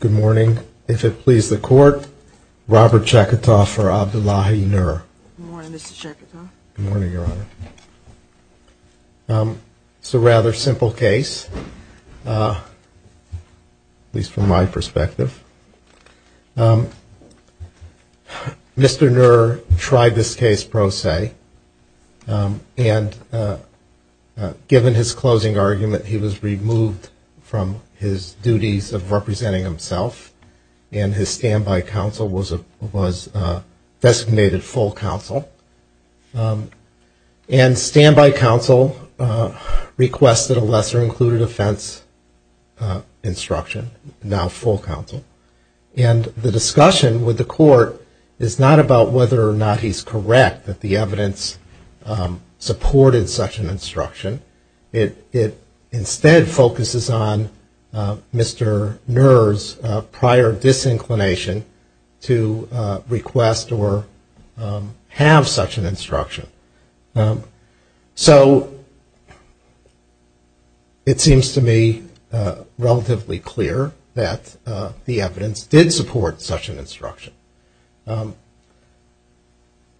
Good morning. If it please the court, Robert Chekatov for Abdullahi Nur. Good morning, Mr. Chekatov. Good morning, Your Honor. It's a rather simple case, at least from my perspective. Mr. Nur tried this case pro se, and given his closing argument, he was removed from his duties of representing himself, and his standby counsel was designated full counsel. And standby counsel requested a lesser-included offense instruction, now full counsel. And the discussion with the court is not about whether or not he's correct that the evidence supported such an instruction. It instead focuses on Mr. Nur's prior disinclination to request or have such an instruction. So it seems to me relatively clear that the evidence did support such an instruction.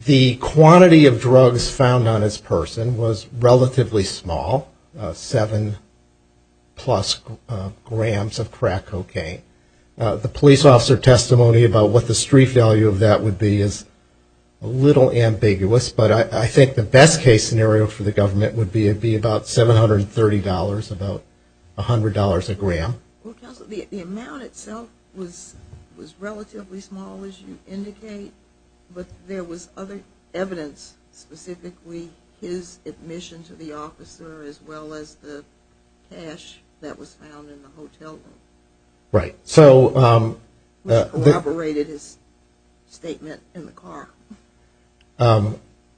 The quantity of drugs found on this person was relatively small, seven-plus grams of crack cocaine. The police officer testimony about what the street value of that would be is a little ambiguous, but I think the best-case scenario for the government would be about $730, about $100 a gram. Well, counsel, the amount itself was relatively small, as you indicate, but there was other evidence specifically his admission to the officer as well as the cash that was found in the hotel room. Right. Which collaborated his statement in the car.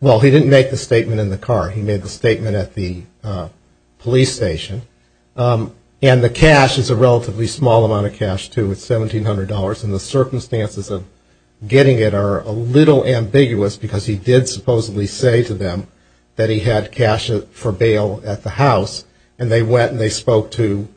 Well, he didn't make the statement in the car. He made the statement at the police station. And the cash is a relatively small amount of cash, too. It's $1,700, and the circumstances of getting it are a little ambiguous, because he did supposedly say to them that he had cash for bail at the house, and they went and they spoke to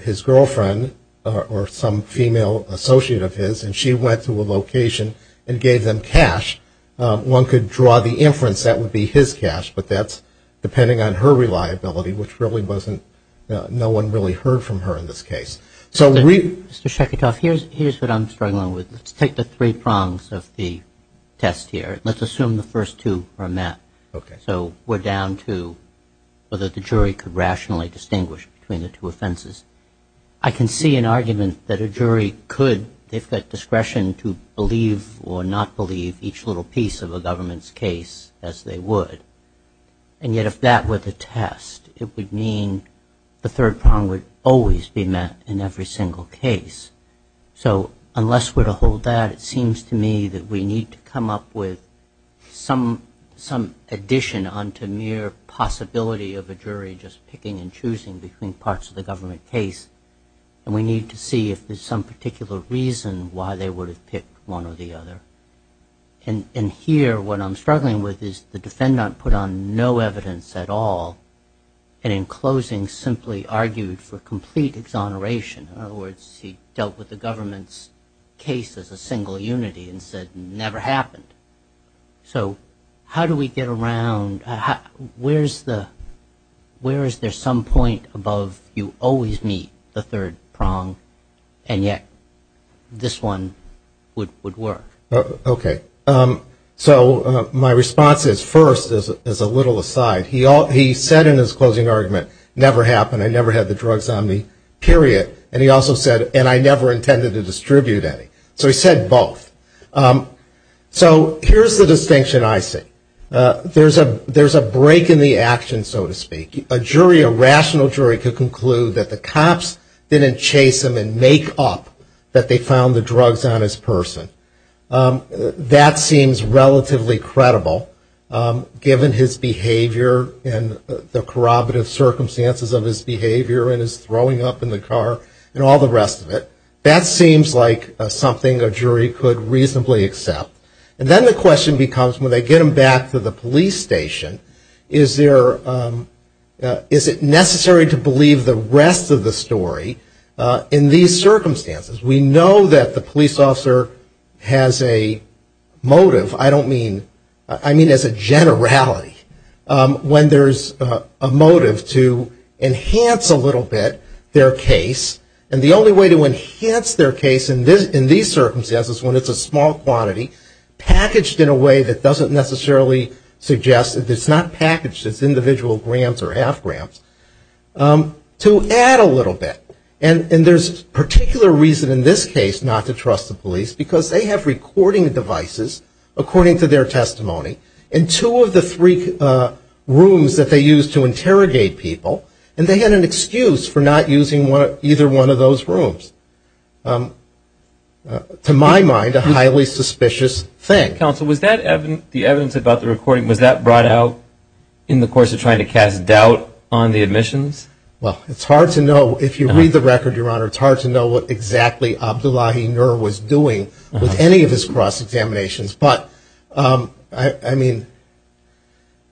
his girlfriend or some female associate of his, and she went to a location and gave them cash. One could draw the inference that would be his cash, but that's depending on her reliability, which really wasn't no one really heard from her in this case. Mr. Sheketoff, here's what I'm struggling with. Let's take the three prongs of the test here. Let's assume the first two are met. Okay. So we're down to whether the jury could rationally distinguish between the two offenses. I can see an argument that a jury could. They've got discretion to believe or not believe each little piece of a government's case as they would. And yet if that were the test, it would mean the third prong would always be met in every single case. So unless we're to hold that, it seems to me that we need to come up with some addition onto mere possibility of a jury just picking and choosing between parts of the government case, and we need to see if there's some particular reason why they would have picked one or the other. And here what I'm struggling with is the defendant put on no evidence at all, and in closing simply argued for complete exoneration. In other words, he dealt with the government's case as a single unity and said, never happened. So how do we get around, where is there some point above you always meet the third prong, and yet this one would work? Okay. So my response is, first, as a little aside, he said in his closing argument, never happened, I never had the drugs on me, period. And he also said, and I never intended to distribute any. So he said both. So here's the distinction I see. There's a break in the action, so to speak. A jury, a rational jury, could conclude that the cops didn't chase him and make up that they found the drugs on his person. That seems relatively credible, given his behavior and the corroborative circumstances of his behavior and his throwing up in the car and all the rest of it. That seems like something a jury could reasonably accept. And then the question becomes, when they get him back to the police station, is it necessary to believe the rest of the story in these circumstances? We know that the police officer has a motive, I don't mean, I mean as a generality, when there's a motive to enhance a little bit their case. And the only way to enhance their case in these circumstances when it's a small quantity, packaged in a way that doesn't necessarily suggest, it's not packaged as individual grants or half grants, to add a little bit. And there's particular reason in this case not to trust the police, because they have recording devices, according to their testimony, in two of the three rooms that they use to interrogate people, and they had an excuse for not using either one of those rooms. To my mind, a highly suspicious thing. Counsel, was that evidence, the evidence about the recording, was that brought out in the course of trying to cast doubt on the admissions? Well, it's hard to know. If you read the record, Your Honor, it's hard to know what exactly Abdullahi Nur was doing with any of his cross-examinations. But, I mean,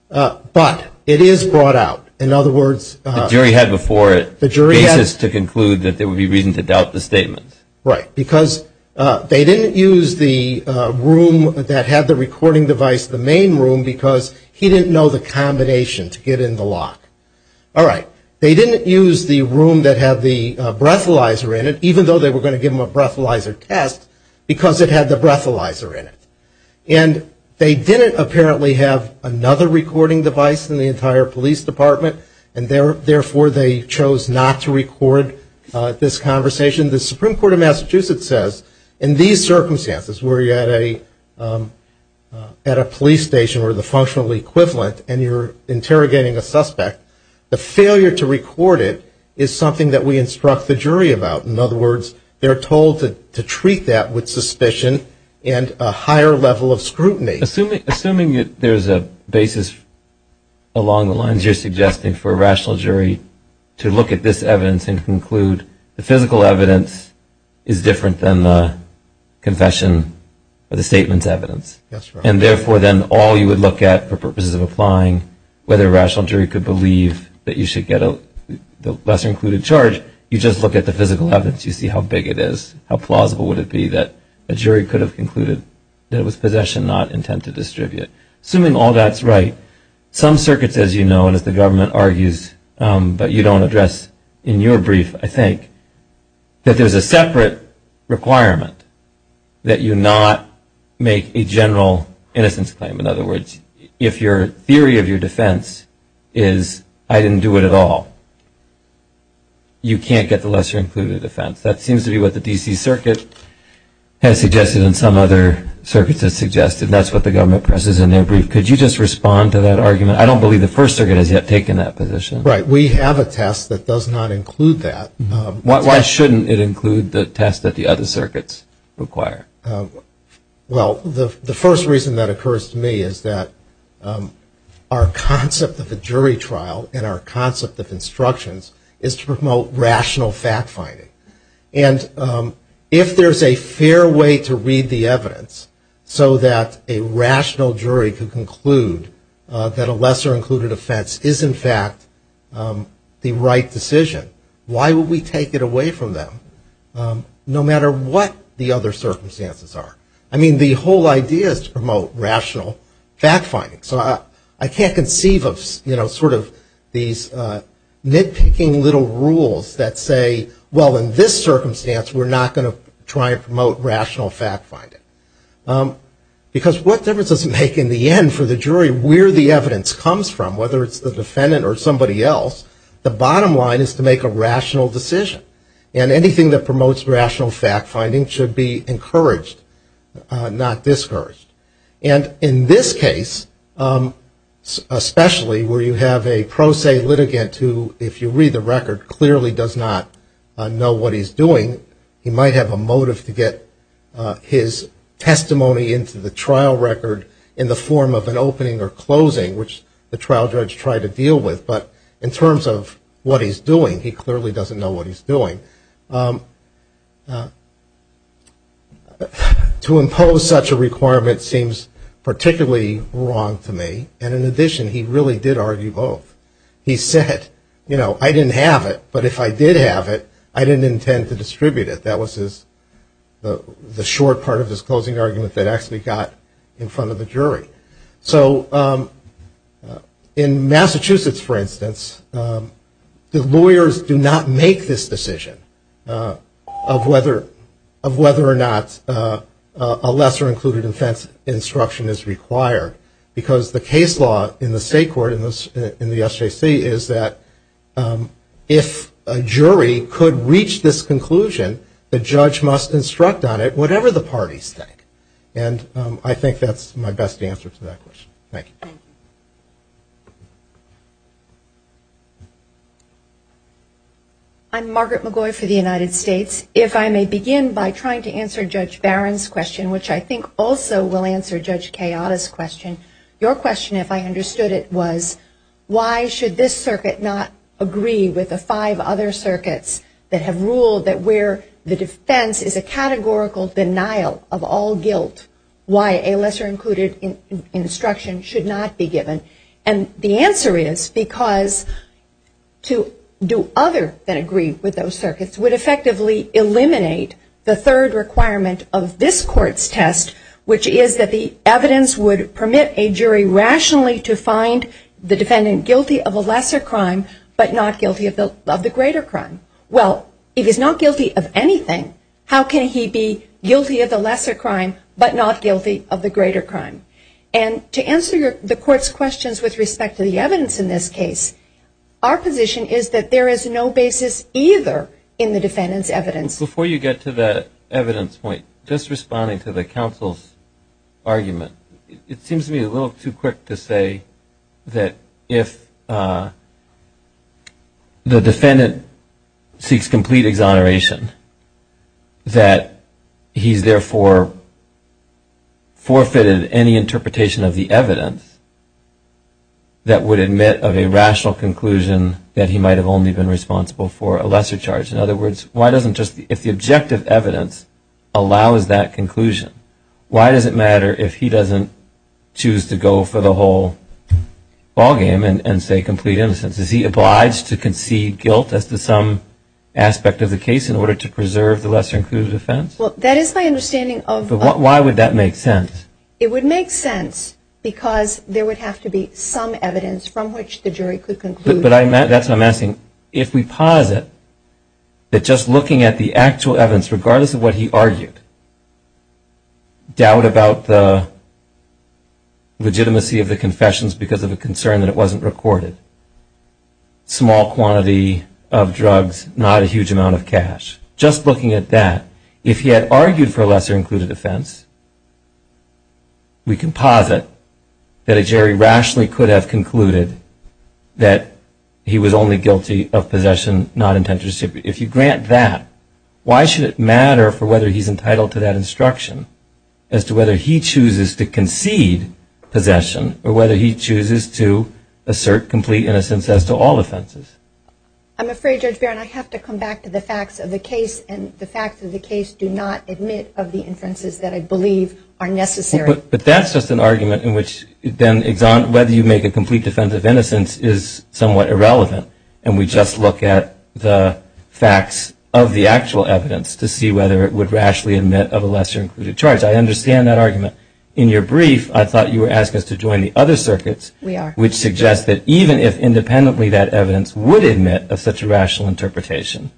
but it is brought out. In other words. The jury had before it basis to conclude that there would be reason to doubt the statement. Right. Because they didn't use the room that had the recording device, the main room, because he didn't know the combination to get in the lock. All right. They didn't use the room that had the breathalyzer in it, even though they were going to give him a breathalyzer test, because it had the breathalyzer in it. And they didn't apparently have another recording device in the entire police department, and therefore they chose not to record this conversation. The Supreme Court of Massachusetts says in these circumstances, where you're at a police station or the functional equivalent, and you're interrogating a suspect, the failure to record it is something that we instruct the jury about. In other words, they're told to treat that with suspicion and a higher level of scrutiny. Assuming there's a basis along the lines you're suggesting for a rational jury to look at this evidence and conclude the physical evidence is different than the confession or the statement's evidence. That's right. And, therefore, then all you would look at for purposes of applying whether a rational jury could believe that you should get a lesser included charge, you just look at the physical evidence. You see how big it is, how plausible would it be that a jury could have concluded that it was possession, not intent to distribute. Assuming all that's right, some circuits, as you know, and as the government argues, but you don't address in your brief, I think, that there's a separate requirement that you not make a general innocence claim. In other words, if your theory of your defense is I didn't do it at all, you can't get the lesser included offense. That seems to be what the D.C. Circuit has suggested and some other circuits have suggested, and that's what the government presses in their brief. Could you just respond to that argument? I don't believe the First Circuit has yet taken that position. Right. We have a test that does not include that. Why shouldn't it include the test that the other circuits require? Well, the first reason that occurs to me is that our concept of a jury trial and our concept of instructions is to promote rational fact finding. And if there's a fair way to read the evidence so that a rational jury can conclude that a lesser included offense is, in fact, the right decision, why would we take it away from them? No matter what the other circumstances are. I mean, the whole idea is to promote rational fact finding. So I can't conceive of, you know, sort of these nitpicking little rules that say, well, in this circumstance we're not going to try and promote rational fact finding. Because what difference does it make in the end for the jury where the evidence comes from, whether it's the defendant or somebody else, the bottom line is to make a rational decision. And anything that promotes rational fact finding should be encouraged, not discouraged. And in this case, especially where you have a pro se litigant who, if you read the record, clearly does not know what he's doing, he might have a motive to get his testimony into the trial record in the form of an opening or closing, which the trial judge tried to deal with. But in terms of what he's doing, he clearly doesn't know what he's doing. To impose such a requirement seems particularly wrong to me. And in addition, he really did argue both. He said, you know, I didn't have it, but if I did have it, I didn't intend to distribute it. That was the short part of his closing argument that actually got in front of the jury. So in Massachusetts, for instance, the lawyers do not make this decision of whether or not a lesser included offense instruction is required. Because the case law in the state court in the SJC is that if a jury could reach this conclusion, the judge must instruct on it whatever the parties think. And I think that's my best answer to that question. Thank you. I'm Margaret McGoy for the United States. If I may begin by trying to answer Judge Barron's question, which I think also will answer Judge Kayada's question. Your question, if I understood it, was why should this circuit not agree with the five other circuits that have ruled that where the defense is a categorical denial of all guilt, why a lesser included instruction should not be given? And the answer is because to do other than agree with those circuits would effectively eliminate the third requirement of this court's test, which is that the evidence would permit a jury rationally to find the defendant guilty of a lesser crime but not guilty of the greater crime. Well, if he's not guilty of anything, how can he be guilty of the lesser crime but not guilty of the greater crime? And to answer the court's questions with respect to the evidence in this case, our position is that there is no basis either in the defendant's evidence. Before you get to that evidence point, just responding to the counsel's argument, it seems to me a little too quick to say that if the defendant seeks complete exoneration, that he's therefore forfeited any interpretation of the evidence that would admit of a rational conclusion that he might have only been responsible for a lesser charge. In other words, if the objective evidence allows that conclusion, why does it matter if he doesn't choose to go for the whole ballgame and say complete innocence? Is he obliged to concede guilt as to some aspect of the case in order to preserve the lesser included offense? Well, that is my understanding of... But why would that make sense? It would make sense because there would have to be some evidence from which the jury could conclude... But that's what I'm asking. If we posit that just looking at the actual evidence, regardless of what he argued, doubt about the legitimacy of the confessions because of a concern that it wasn't recorded, small quantity of drugs, not a huge amount of cash, just looking at that, if he had argued for a lesser included offense, we can posit that a jury rationally could have concluded that he was only guilty of possession, not intent to distribute. If you grant that, why should it matter for whether he's entitled to that instruction as to whether he chooses to concede possession or whether he chooses to assert complete innocence as to all offenses? I'm afraid, Judge Barron, I have to come back to the facts of the case, and the fact that the case did not admit of the inferences that I believe are necessary. But that's just an argument in which whether you make a complete defense of innocence is somewhat irrelevant, and we just look at the facts of the actual evidence to see whether it would rationally admit of a lesser included charge. I understand that argument. In your brief, I thought you were asking us to join the other circuits... We are. ...which suggest that even if independently that evidence would admit of such a rational interpretation,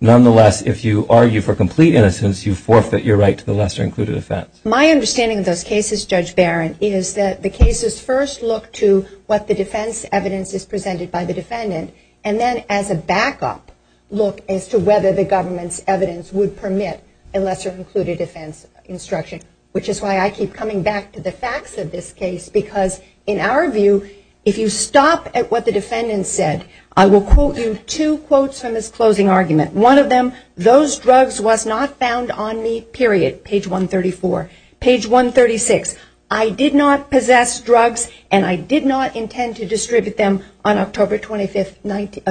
nonetheless, if you argue for complete innocence, you forfeit your right to the lesser included offense. My understanding of those cases, Judge Barron, is that the cases first look to what the defense evidence is presented by the defendant, and then as a backup, look as to whether the government's evidence would permit a lesser included offense instruction, which is why I keep coming back to the facts of this case, because in our view, if you stop at what the defendant said, I will quote you two quotes from his closing argument. One of them, those drugs was not found on me, period, page 134. Page 136, I did not possess drugs, and I did not intend to distribute them on October 25th,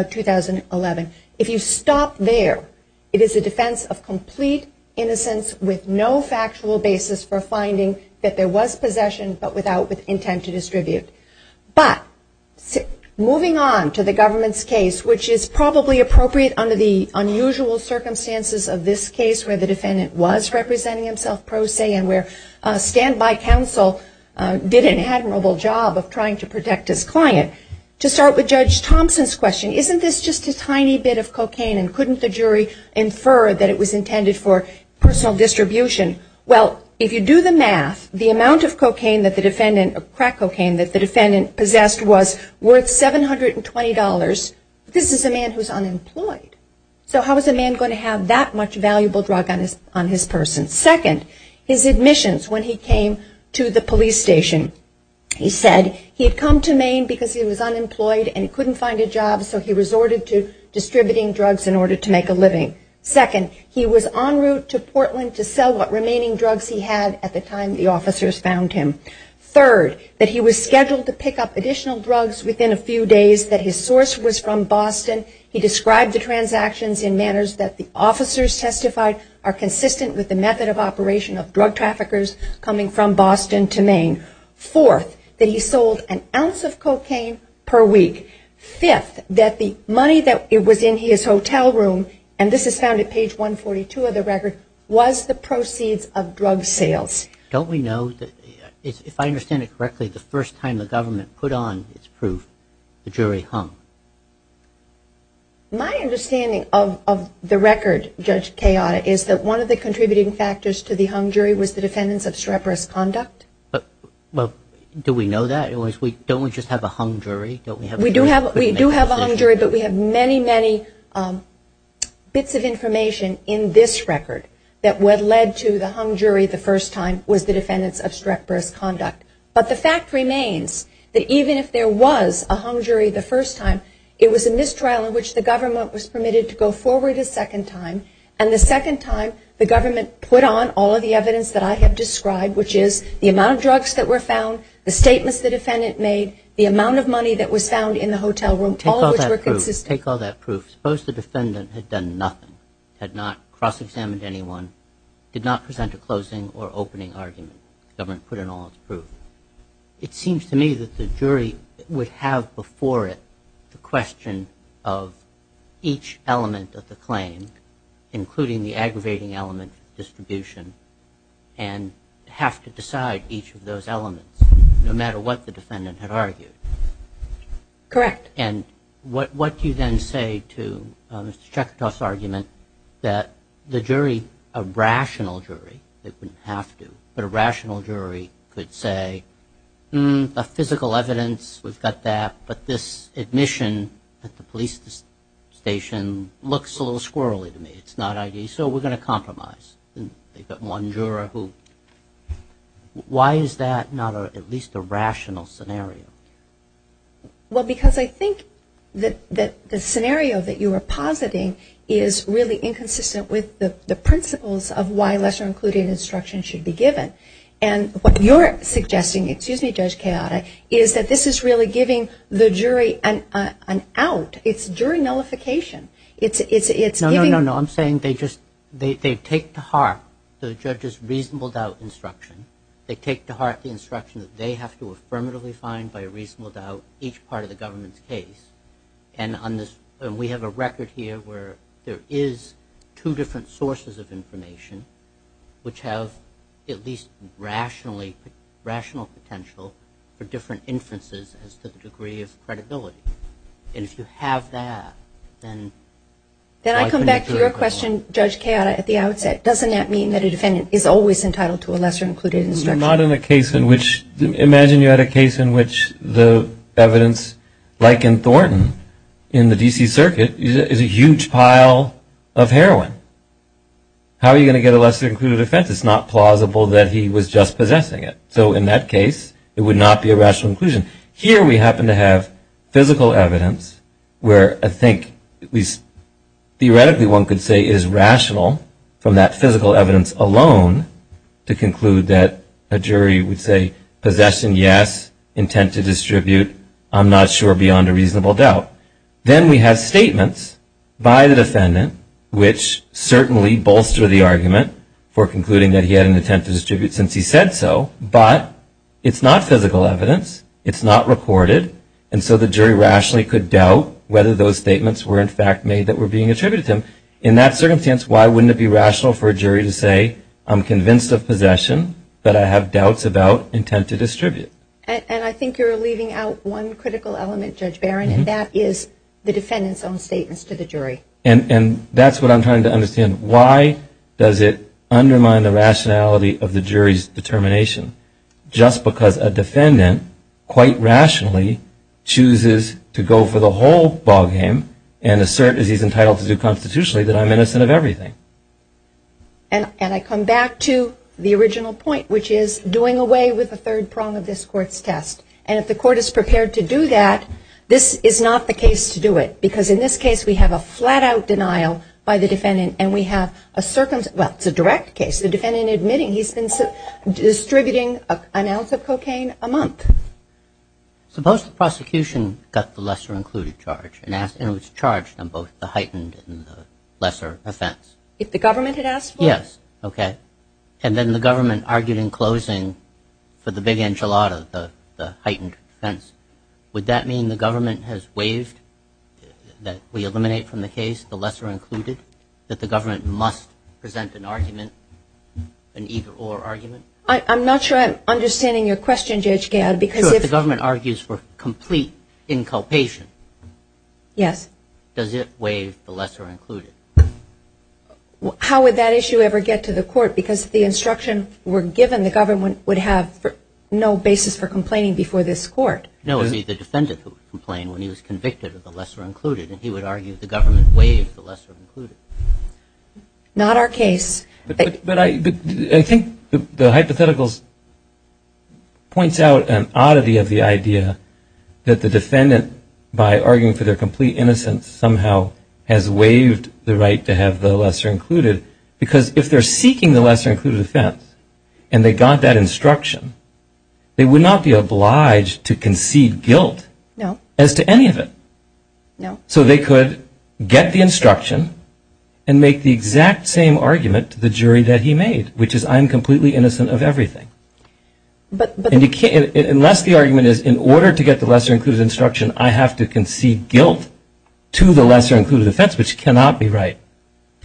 2011. If you stop there, it is a defense of complete innocence with no factual basis for finding that there was possession, but without intent to distribute. But moving on to the government's case, which is probably appropriate under the unusual circumstances of this case, where the defendant was representing himself pro se, and where standby counsel did an admirable job of trying to protect his client. To start with Judge Thompson's question, isn't this just a tiny bit of cocaine, and couldn't the jury infer that it was intended for personal distribution? Well, if you do the math, the amount of cocaine that the defendant, crack cocaine that the defendant possessed, was worth $720. This is a man who is unemployed. So how is a man going to have that much valuable drug on his person? Second, his admissions when he came to the police station. He said he had come to Maine because he was unemployed and couldn't find a job, so he resorted to distributing drugs in order to make a living. Second, he was en route to Portland to sell what remaining drugs he had at the time the officers found him. Third, that he was scheduled to pick up additional drugs within a few days, that his source was from Boston. He described the transactions in manners that the officers testified are consistent with the method of operation of drug traffickers coming from Boston to Maine. Fourth, that he sold an ounce of cocaine per week. Fifth, that the money that was in his hotel room, and this is found at page 142 of the record, was the proceeds of drug sales. Don't we know that, if I understand it correctly, the first time the government put on its proof, the jury hung? My understanding of the record, Judge Kayada, is that one of the contributing factors to the hung jury was the defendant's obstreperous conduct. Well, do we know that? Don't we just have a hung jury? We do have a hung jury, but we have many, many bits of information in this record that what led to the hung jury the first time was the defendant's obstreperous conduct. But the fact remains that even if there was a hung jury the first time, it was in this trial in which the government was permitted to go forward a second time, and the second time the government put on all of the evidence that I have described, which is the amount of drugs that were found, the statements the defendant made, the amount of money that was found in the hotel room, all of which were consistent. Take all that proof. Suppose the defendant had done nothing, had not cross-examined anyone, did not present a closing or opening argument. The government put in all its proof. It seems to me that the jury would have before it the question of each element of the claim, including the aggravating element of distribution, and have to decide each of those elements, no matter what the defendant had argued. Correct. And what do you then say to Mr. Chekhatov's argument that the jury, a rational jury that wouldn't have to, but a rational jury could say, hmm, the physical evidence, we've got that, but this admission at the police station looks a little squirrely to me. It's not ideal, so we're going to compromise. They've got one juror who, why is that not at least a rational scenario? Well, because I think that the scenario that you are positing is really inconsistent with the principles of why lesser-included instruction should be given. And what you're suggesting, excuse me, Judge Chekhatov, is that this is really giving the jury an out. It's jury nullification. No, no, no, no. I'm saying they take to heart the judge's reasonable doubt instruction. They take to heart the instruction that they have to affirmatively find by reasonable doubt each part of the government's case. And we have a record here where there is two different sources of information which have at least rational potential for different inferences as to the degree of credibility. And if you have that, then... Then I come back to your question, Judge Chekhatov, at the outset. Doesn't that mean that a defendant is always entitled to a lesser-included instruction? Not in a case in which, imagine you had a case in which the evidence, like in Thornton in the D.C. Circuit, is a huge pile of heroin. How are you going to get a lesser-included offense? It's not plausible that he was just possessing it. So in that case, it would not be a rational inclusion. Here we happen to have physical evidence where I think at least theoretically one could say is rational from that physical evidence alone to conclude that a jury would say possession, yes, intent to distribute, I'm not sure beyond a reasonable doubt. Then we have statements by the defendant which certainly bolster the argument for concluding that he had an intent to distribute since he said so. But it's not physical evidence, it's not recorded, and so the jury rationally could doubt whether those statements were in fact made that were being attributed to him. In that circumstance, why wouldn't it be rational for a jury to say, I'm convinced of possession, but I have doubts about intent to distribute? And I think you're leaving out one critical element, Judge Barron, and that is the defendant's own statements to the jury. And that's what I'm trying to understand. Why does it undermine the rationality of the jury's determination? Just because a defendant quite rationally chooses to go for the whole ballgame and assert as he's entitled to do constitutionally that I'm innocent of everything. And I come back to the original point, which is doing away with the third prong of this Court's test. And if the Court is prepared to do that, this is not the case to do it, because in this case we have a flat-out denial by the defendant, and we have a circumstance – well, it's a direct case. The defendant admitting he's been distributing an ounce of cocaine a month. Suppose the prosecution got the lesser-included charge and was charged on both the heightened and the lesser offense? If the government had asked for it? Yes. Okay. And then the government argued in closing for the big enchilada, the heightened offense. Would that mean the government has waived, that we eliminate from the case, the lesser-included? That the government must present an argument, an either-or argument? I'm not sure I'm understanding your question, J.H. Gadd. Sure, if the government argues for complete inculpation, does it waive the lesser-included? How would that issue ever get to the Court? Because if the instruction were given, the government would have no basis for complaining before this Court. No, the defendant would complain when he was convicted of the lesser-included, and he would argue the government waived the lesser-included. Not our case. But I think the hypotheticals points out an oddity of the idea that the defendant, by arguing for their complete innocence, somehow has waived the right to have the lesser-included, because if they're seeking the lesser-included offense and they got that instruction, they would not be obliged to concede guilt as to any of it. No. So they could get the instruction and make the exact same argument to the jury that he made, which is I'm completely innocent of everything. Unless the argument is in order to get the lesser-included instruction, I have to concede guilt to the lesser-included offense, which cannot be right.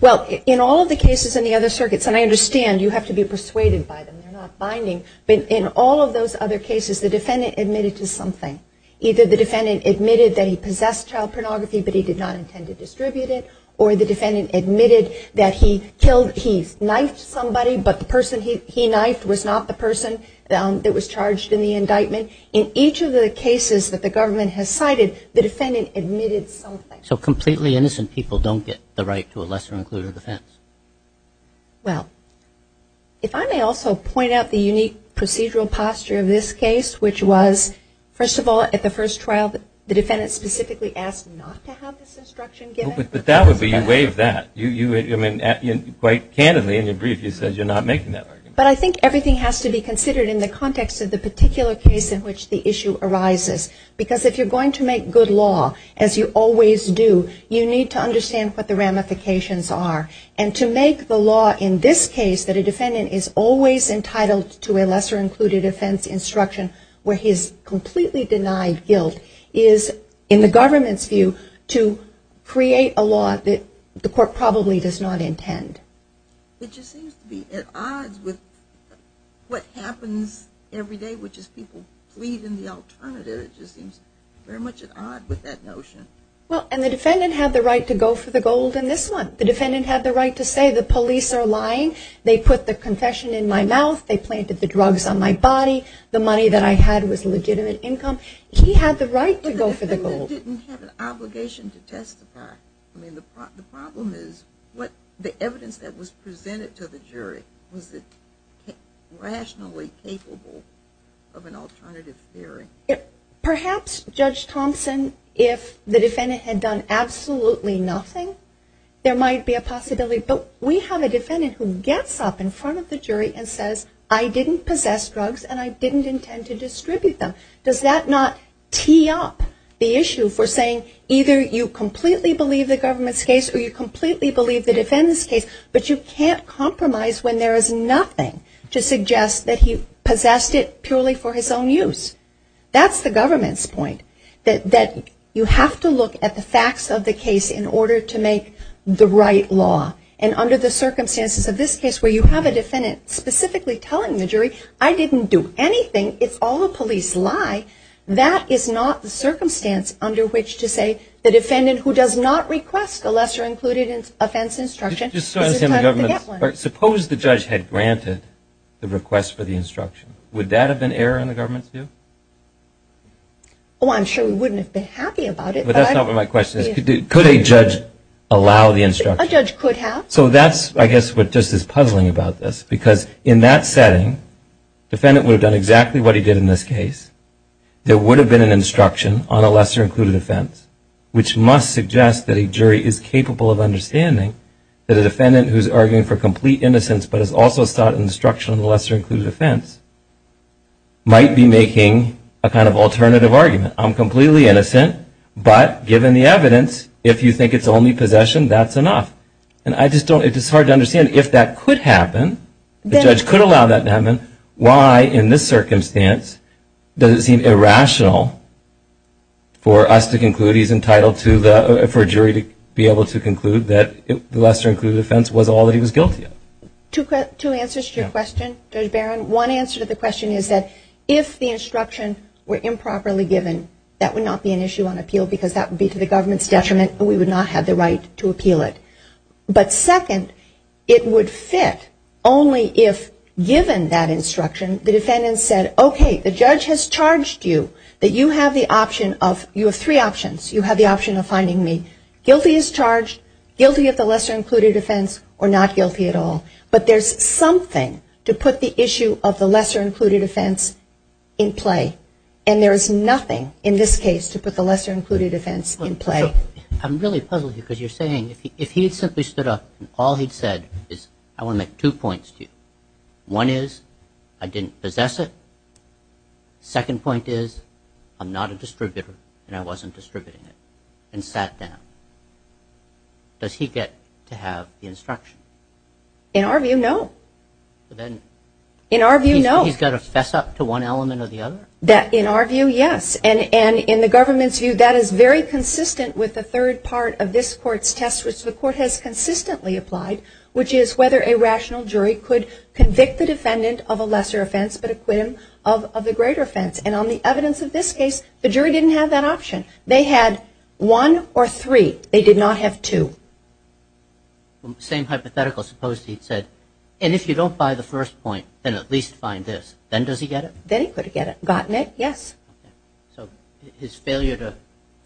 Well, in all of the cases in the other circuits, and I understand you have to be persuaded by them, they're not binding, but in all of those other cases, the defendant admitted to something. Either the defendant admitted that he possessed child pornography, but he did not intend to distribute it, or the defendant admitted that he knifed somebody, but the person he knifed was not the person that was charged in the indictment. In each of the cases that the government has cited, the defendant admitted something. So completely innocent people don't get the right to a lesser-included offense. Well, if I may also point out the unique procedural posture of this case, which was, first of all, at the first trial, the defendant specifically asked not to have this instruction given. But that would be a way of that. Quite candidly, in your brief, you said you're not making that argument. But I think everything has to be considered in the context of the particular case in which the issue arises. Because if you're going to make good law, as you always do, you need to understand what the ramifications are. And to make the law in this case, that a defendant is always entitled to a lesser-included offense instruction, where his completely denied guilt is, in the government's view, to create a law that the court probably does not intend. It just seems to be at odds with what happens every day, which is people plead in the alternative. It just seems very much at odds with that notion. Well, and the defendant had the right to go for the gold in this one. The defendant had the right to say the police are lying, they put the confession in my mouth, they planted the drugs on my body, the money that I had was legitimate income. He had the right to go for the gold. The defendant didn't have an obligation to testify. I mean, the problem is, the evidence that was presented to the jury, was it rationally capable of an alternative theory? Perhaps, Judge Thompson, if the defendant had done absolutely nothing, there might be a possibility. But we have a defendant who gets up in front of the jury and says, I didn't possess drugs and I didn't intend to distribute them. Does that not tee up the issue for saying, either you completely believe the government's case or you completely believe the defendant's case, but you can't compromise when there is nothing to suggest that he possessed it purely for his own use. That's the government's point, that you have to look at the facts of the case in order to make the right law. And under the circumstances of this case, where you have a defendant specifically telling the jury, I didn't do anything, it's all a police lie, that is not the circumstance under which to say, the defendant who does not request a lesser-included offense instruction is entitled to get one. Suppose the judge had granted the request for the instruction. Would that have been error in the government's view? Oh, I'm sure we wouldn't have been happy about it. But that's not what my question is. Could a judge allow the instruction? A judge could have. So that's, I guess, what just is puzzling about this. Because in that setting, the defendant would have done exactly what he did in this case. There would have been an instruction on a lesser-included offense, which must suggest that a jury is capable of understanding that a defendant who is arguing for complete innocence but has also sought instruction on a lesser-included offense might be making a kind of alternative argument. I'm completely innocent, but given the evidence, if you think it's only possession, that's enough. And I just don't, it's hard to understand if that could happen, the judge could allow that to happen, why in this circumstance does it seem irrational for us to conclude he's entitled for a jury to be able to conclude that the lesser-included offense was all that he was guilty of? Two answers to your question, Judge Barron. One answer to the question is that if the instruction were improperly given, that would not be an issue on appeal because that would be to the government's detriment and we would not have the right to appeal it. But second, it would fit only if, given that instruction, the defendant said, okay, the judge has charged you that you have the option of, you have three options. You have the option of finding me guilty as charged, guilty of the lesser-included offense, or not guilty at all. But there's something to put the issue of the lesser-included offense in play. And there is nothing in this case to put the lesser-included offense in play. I'm really puzzled here because you're saying, if he had simply stood up and all he'd said is, I want to make two points to you. One is, I didn't possess it. Second point is, I'm not a distributor and I wasn't distributing it and sat down. Does he get to have the instruction? In our view, no. In our view, no. He's got to fess up to one element or the other? In our view, yes. And in the government's view, that is very consistent with the third part of this court's test, which the court has consistently applied, which is whether a rational jury could convict the defendant of a lesser offense but acquit him of the greater offense. And on the evidence of this case, the jury didn't have that option. They had one or three. They did not have two. Same hypothetical. Supposed he'd said, and if you don't buy the first point, then at least find this. Then does he get it? Then he could have gotten it, yes. So his failure to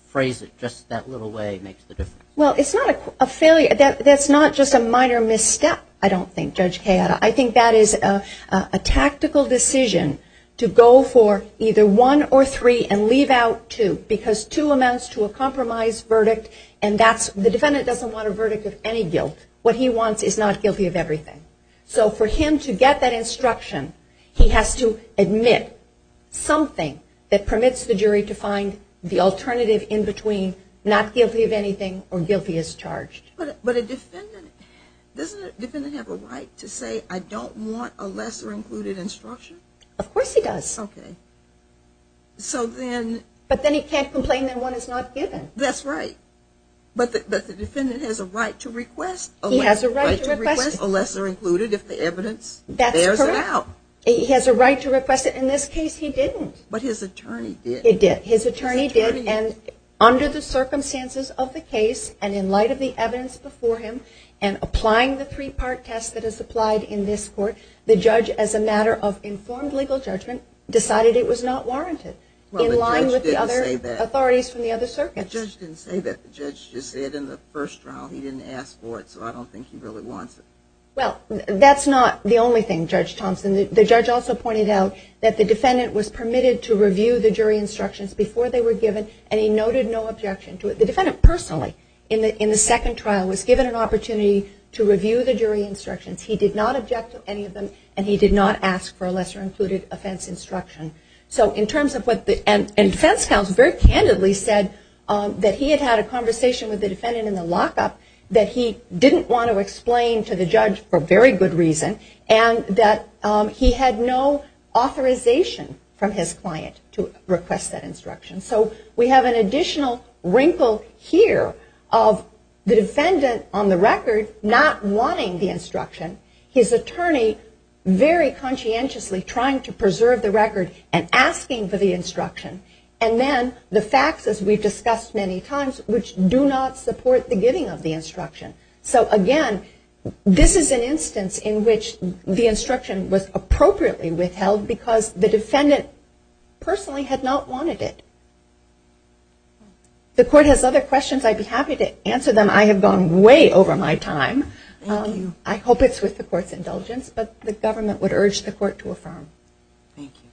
phrase it just that little way makes the difference? Well, it's not a failure. That's not just a minor misstep, I don't think, Judge Cayetta. I think that is a tactical decision to go for either one or three and leave out two because two amounts to a compromise verdict, and the defendant doesn't want a verdict of any guilt. What he wants is not guilty of everything. So for him to get that instruction, he has to admit something that permits the jury to find the alternative in between not guilty of anything or guilty as charged. But doesn't a defendant have a right to say, I don't want a lesser included instruction? Of course he does. Okay. But then he can't complain that one is not given. That's right. But the defendant has a right to request a lesser included if the evidence bears it out. That's correct. He has a right to request it. In this case, he didn't. But his attorney did. He did. His attorney did, and under the circumstances of the case and in light of the evidence before him and applying the three-part test that is applied in this court, the judge, as a matter of informed legal judgment, decided it was not warranted in line with the other authorities from the other circuits. Well, the judge didn't say that. The judge didn't say that. The judge just said in the first trial he didn't ask for it, so I don't think he really wants it. Well, that's not the only thing, Judge Thompson. The judge also pointed out that the defendant was permitted to review the jury instructions before they were given, and he noted no objection to it. The defendant personally, in the second trial, was given an opportunity to review the jury instructions. He did not object to any of them, and he did not ask for a lesser-included offense instruction. So in terms of what the defense counsel very candidly said, that he had had a conversation with the defendant in the lockup that he didn't want to explain to the judge for very good reason and that he had no authorization from his client to request that instruction. So we have an additional wrinkle here of the defendant, on the record, not wanting the instruction, his attorney very conscientiously trying to preserve the record and asking for the instruction, and then the facts, as we've discussed many times, which do not support the giving of the instruction. So again, this is an instance in which the instruction was appropriately withheld because the defendant personally had not wanted it. The court has other questions. I'd be happy to answer them. I have gone way over my time. I hope it's with the court's indulgence, but the government would urge the court to affirm. Thank you.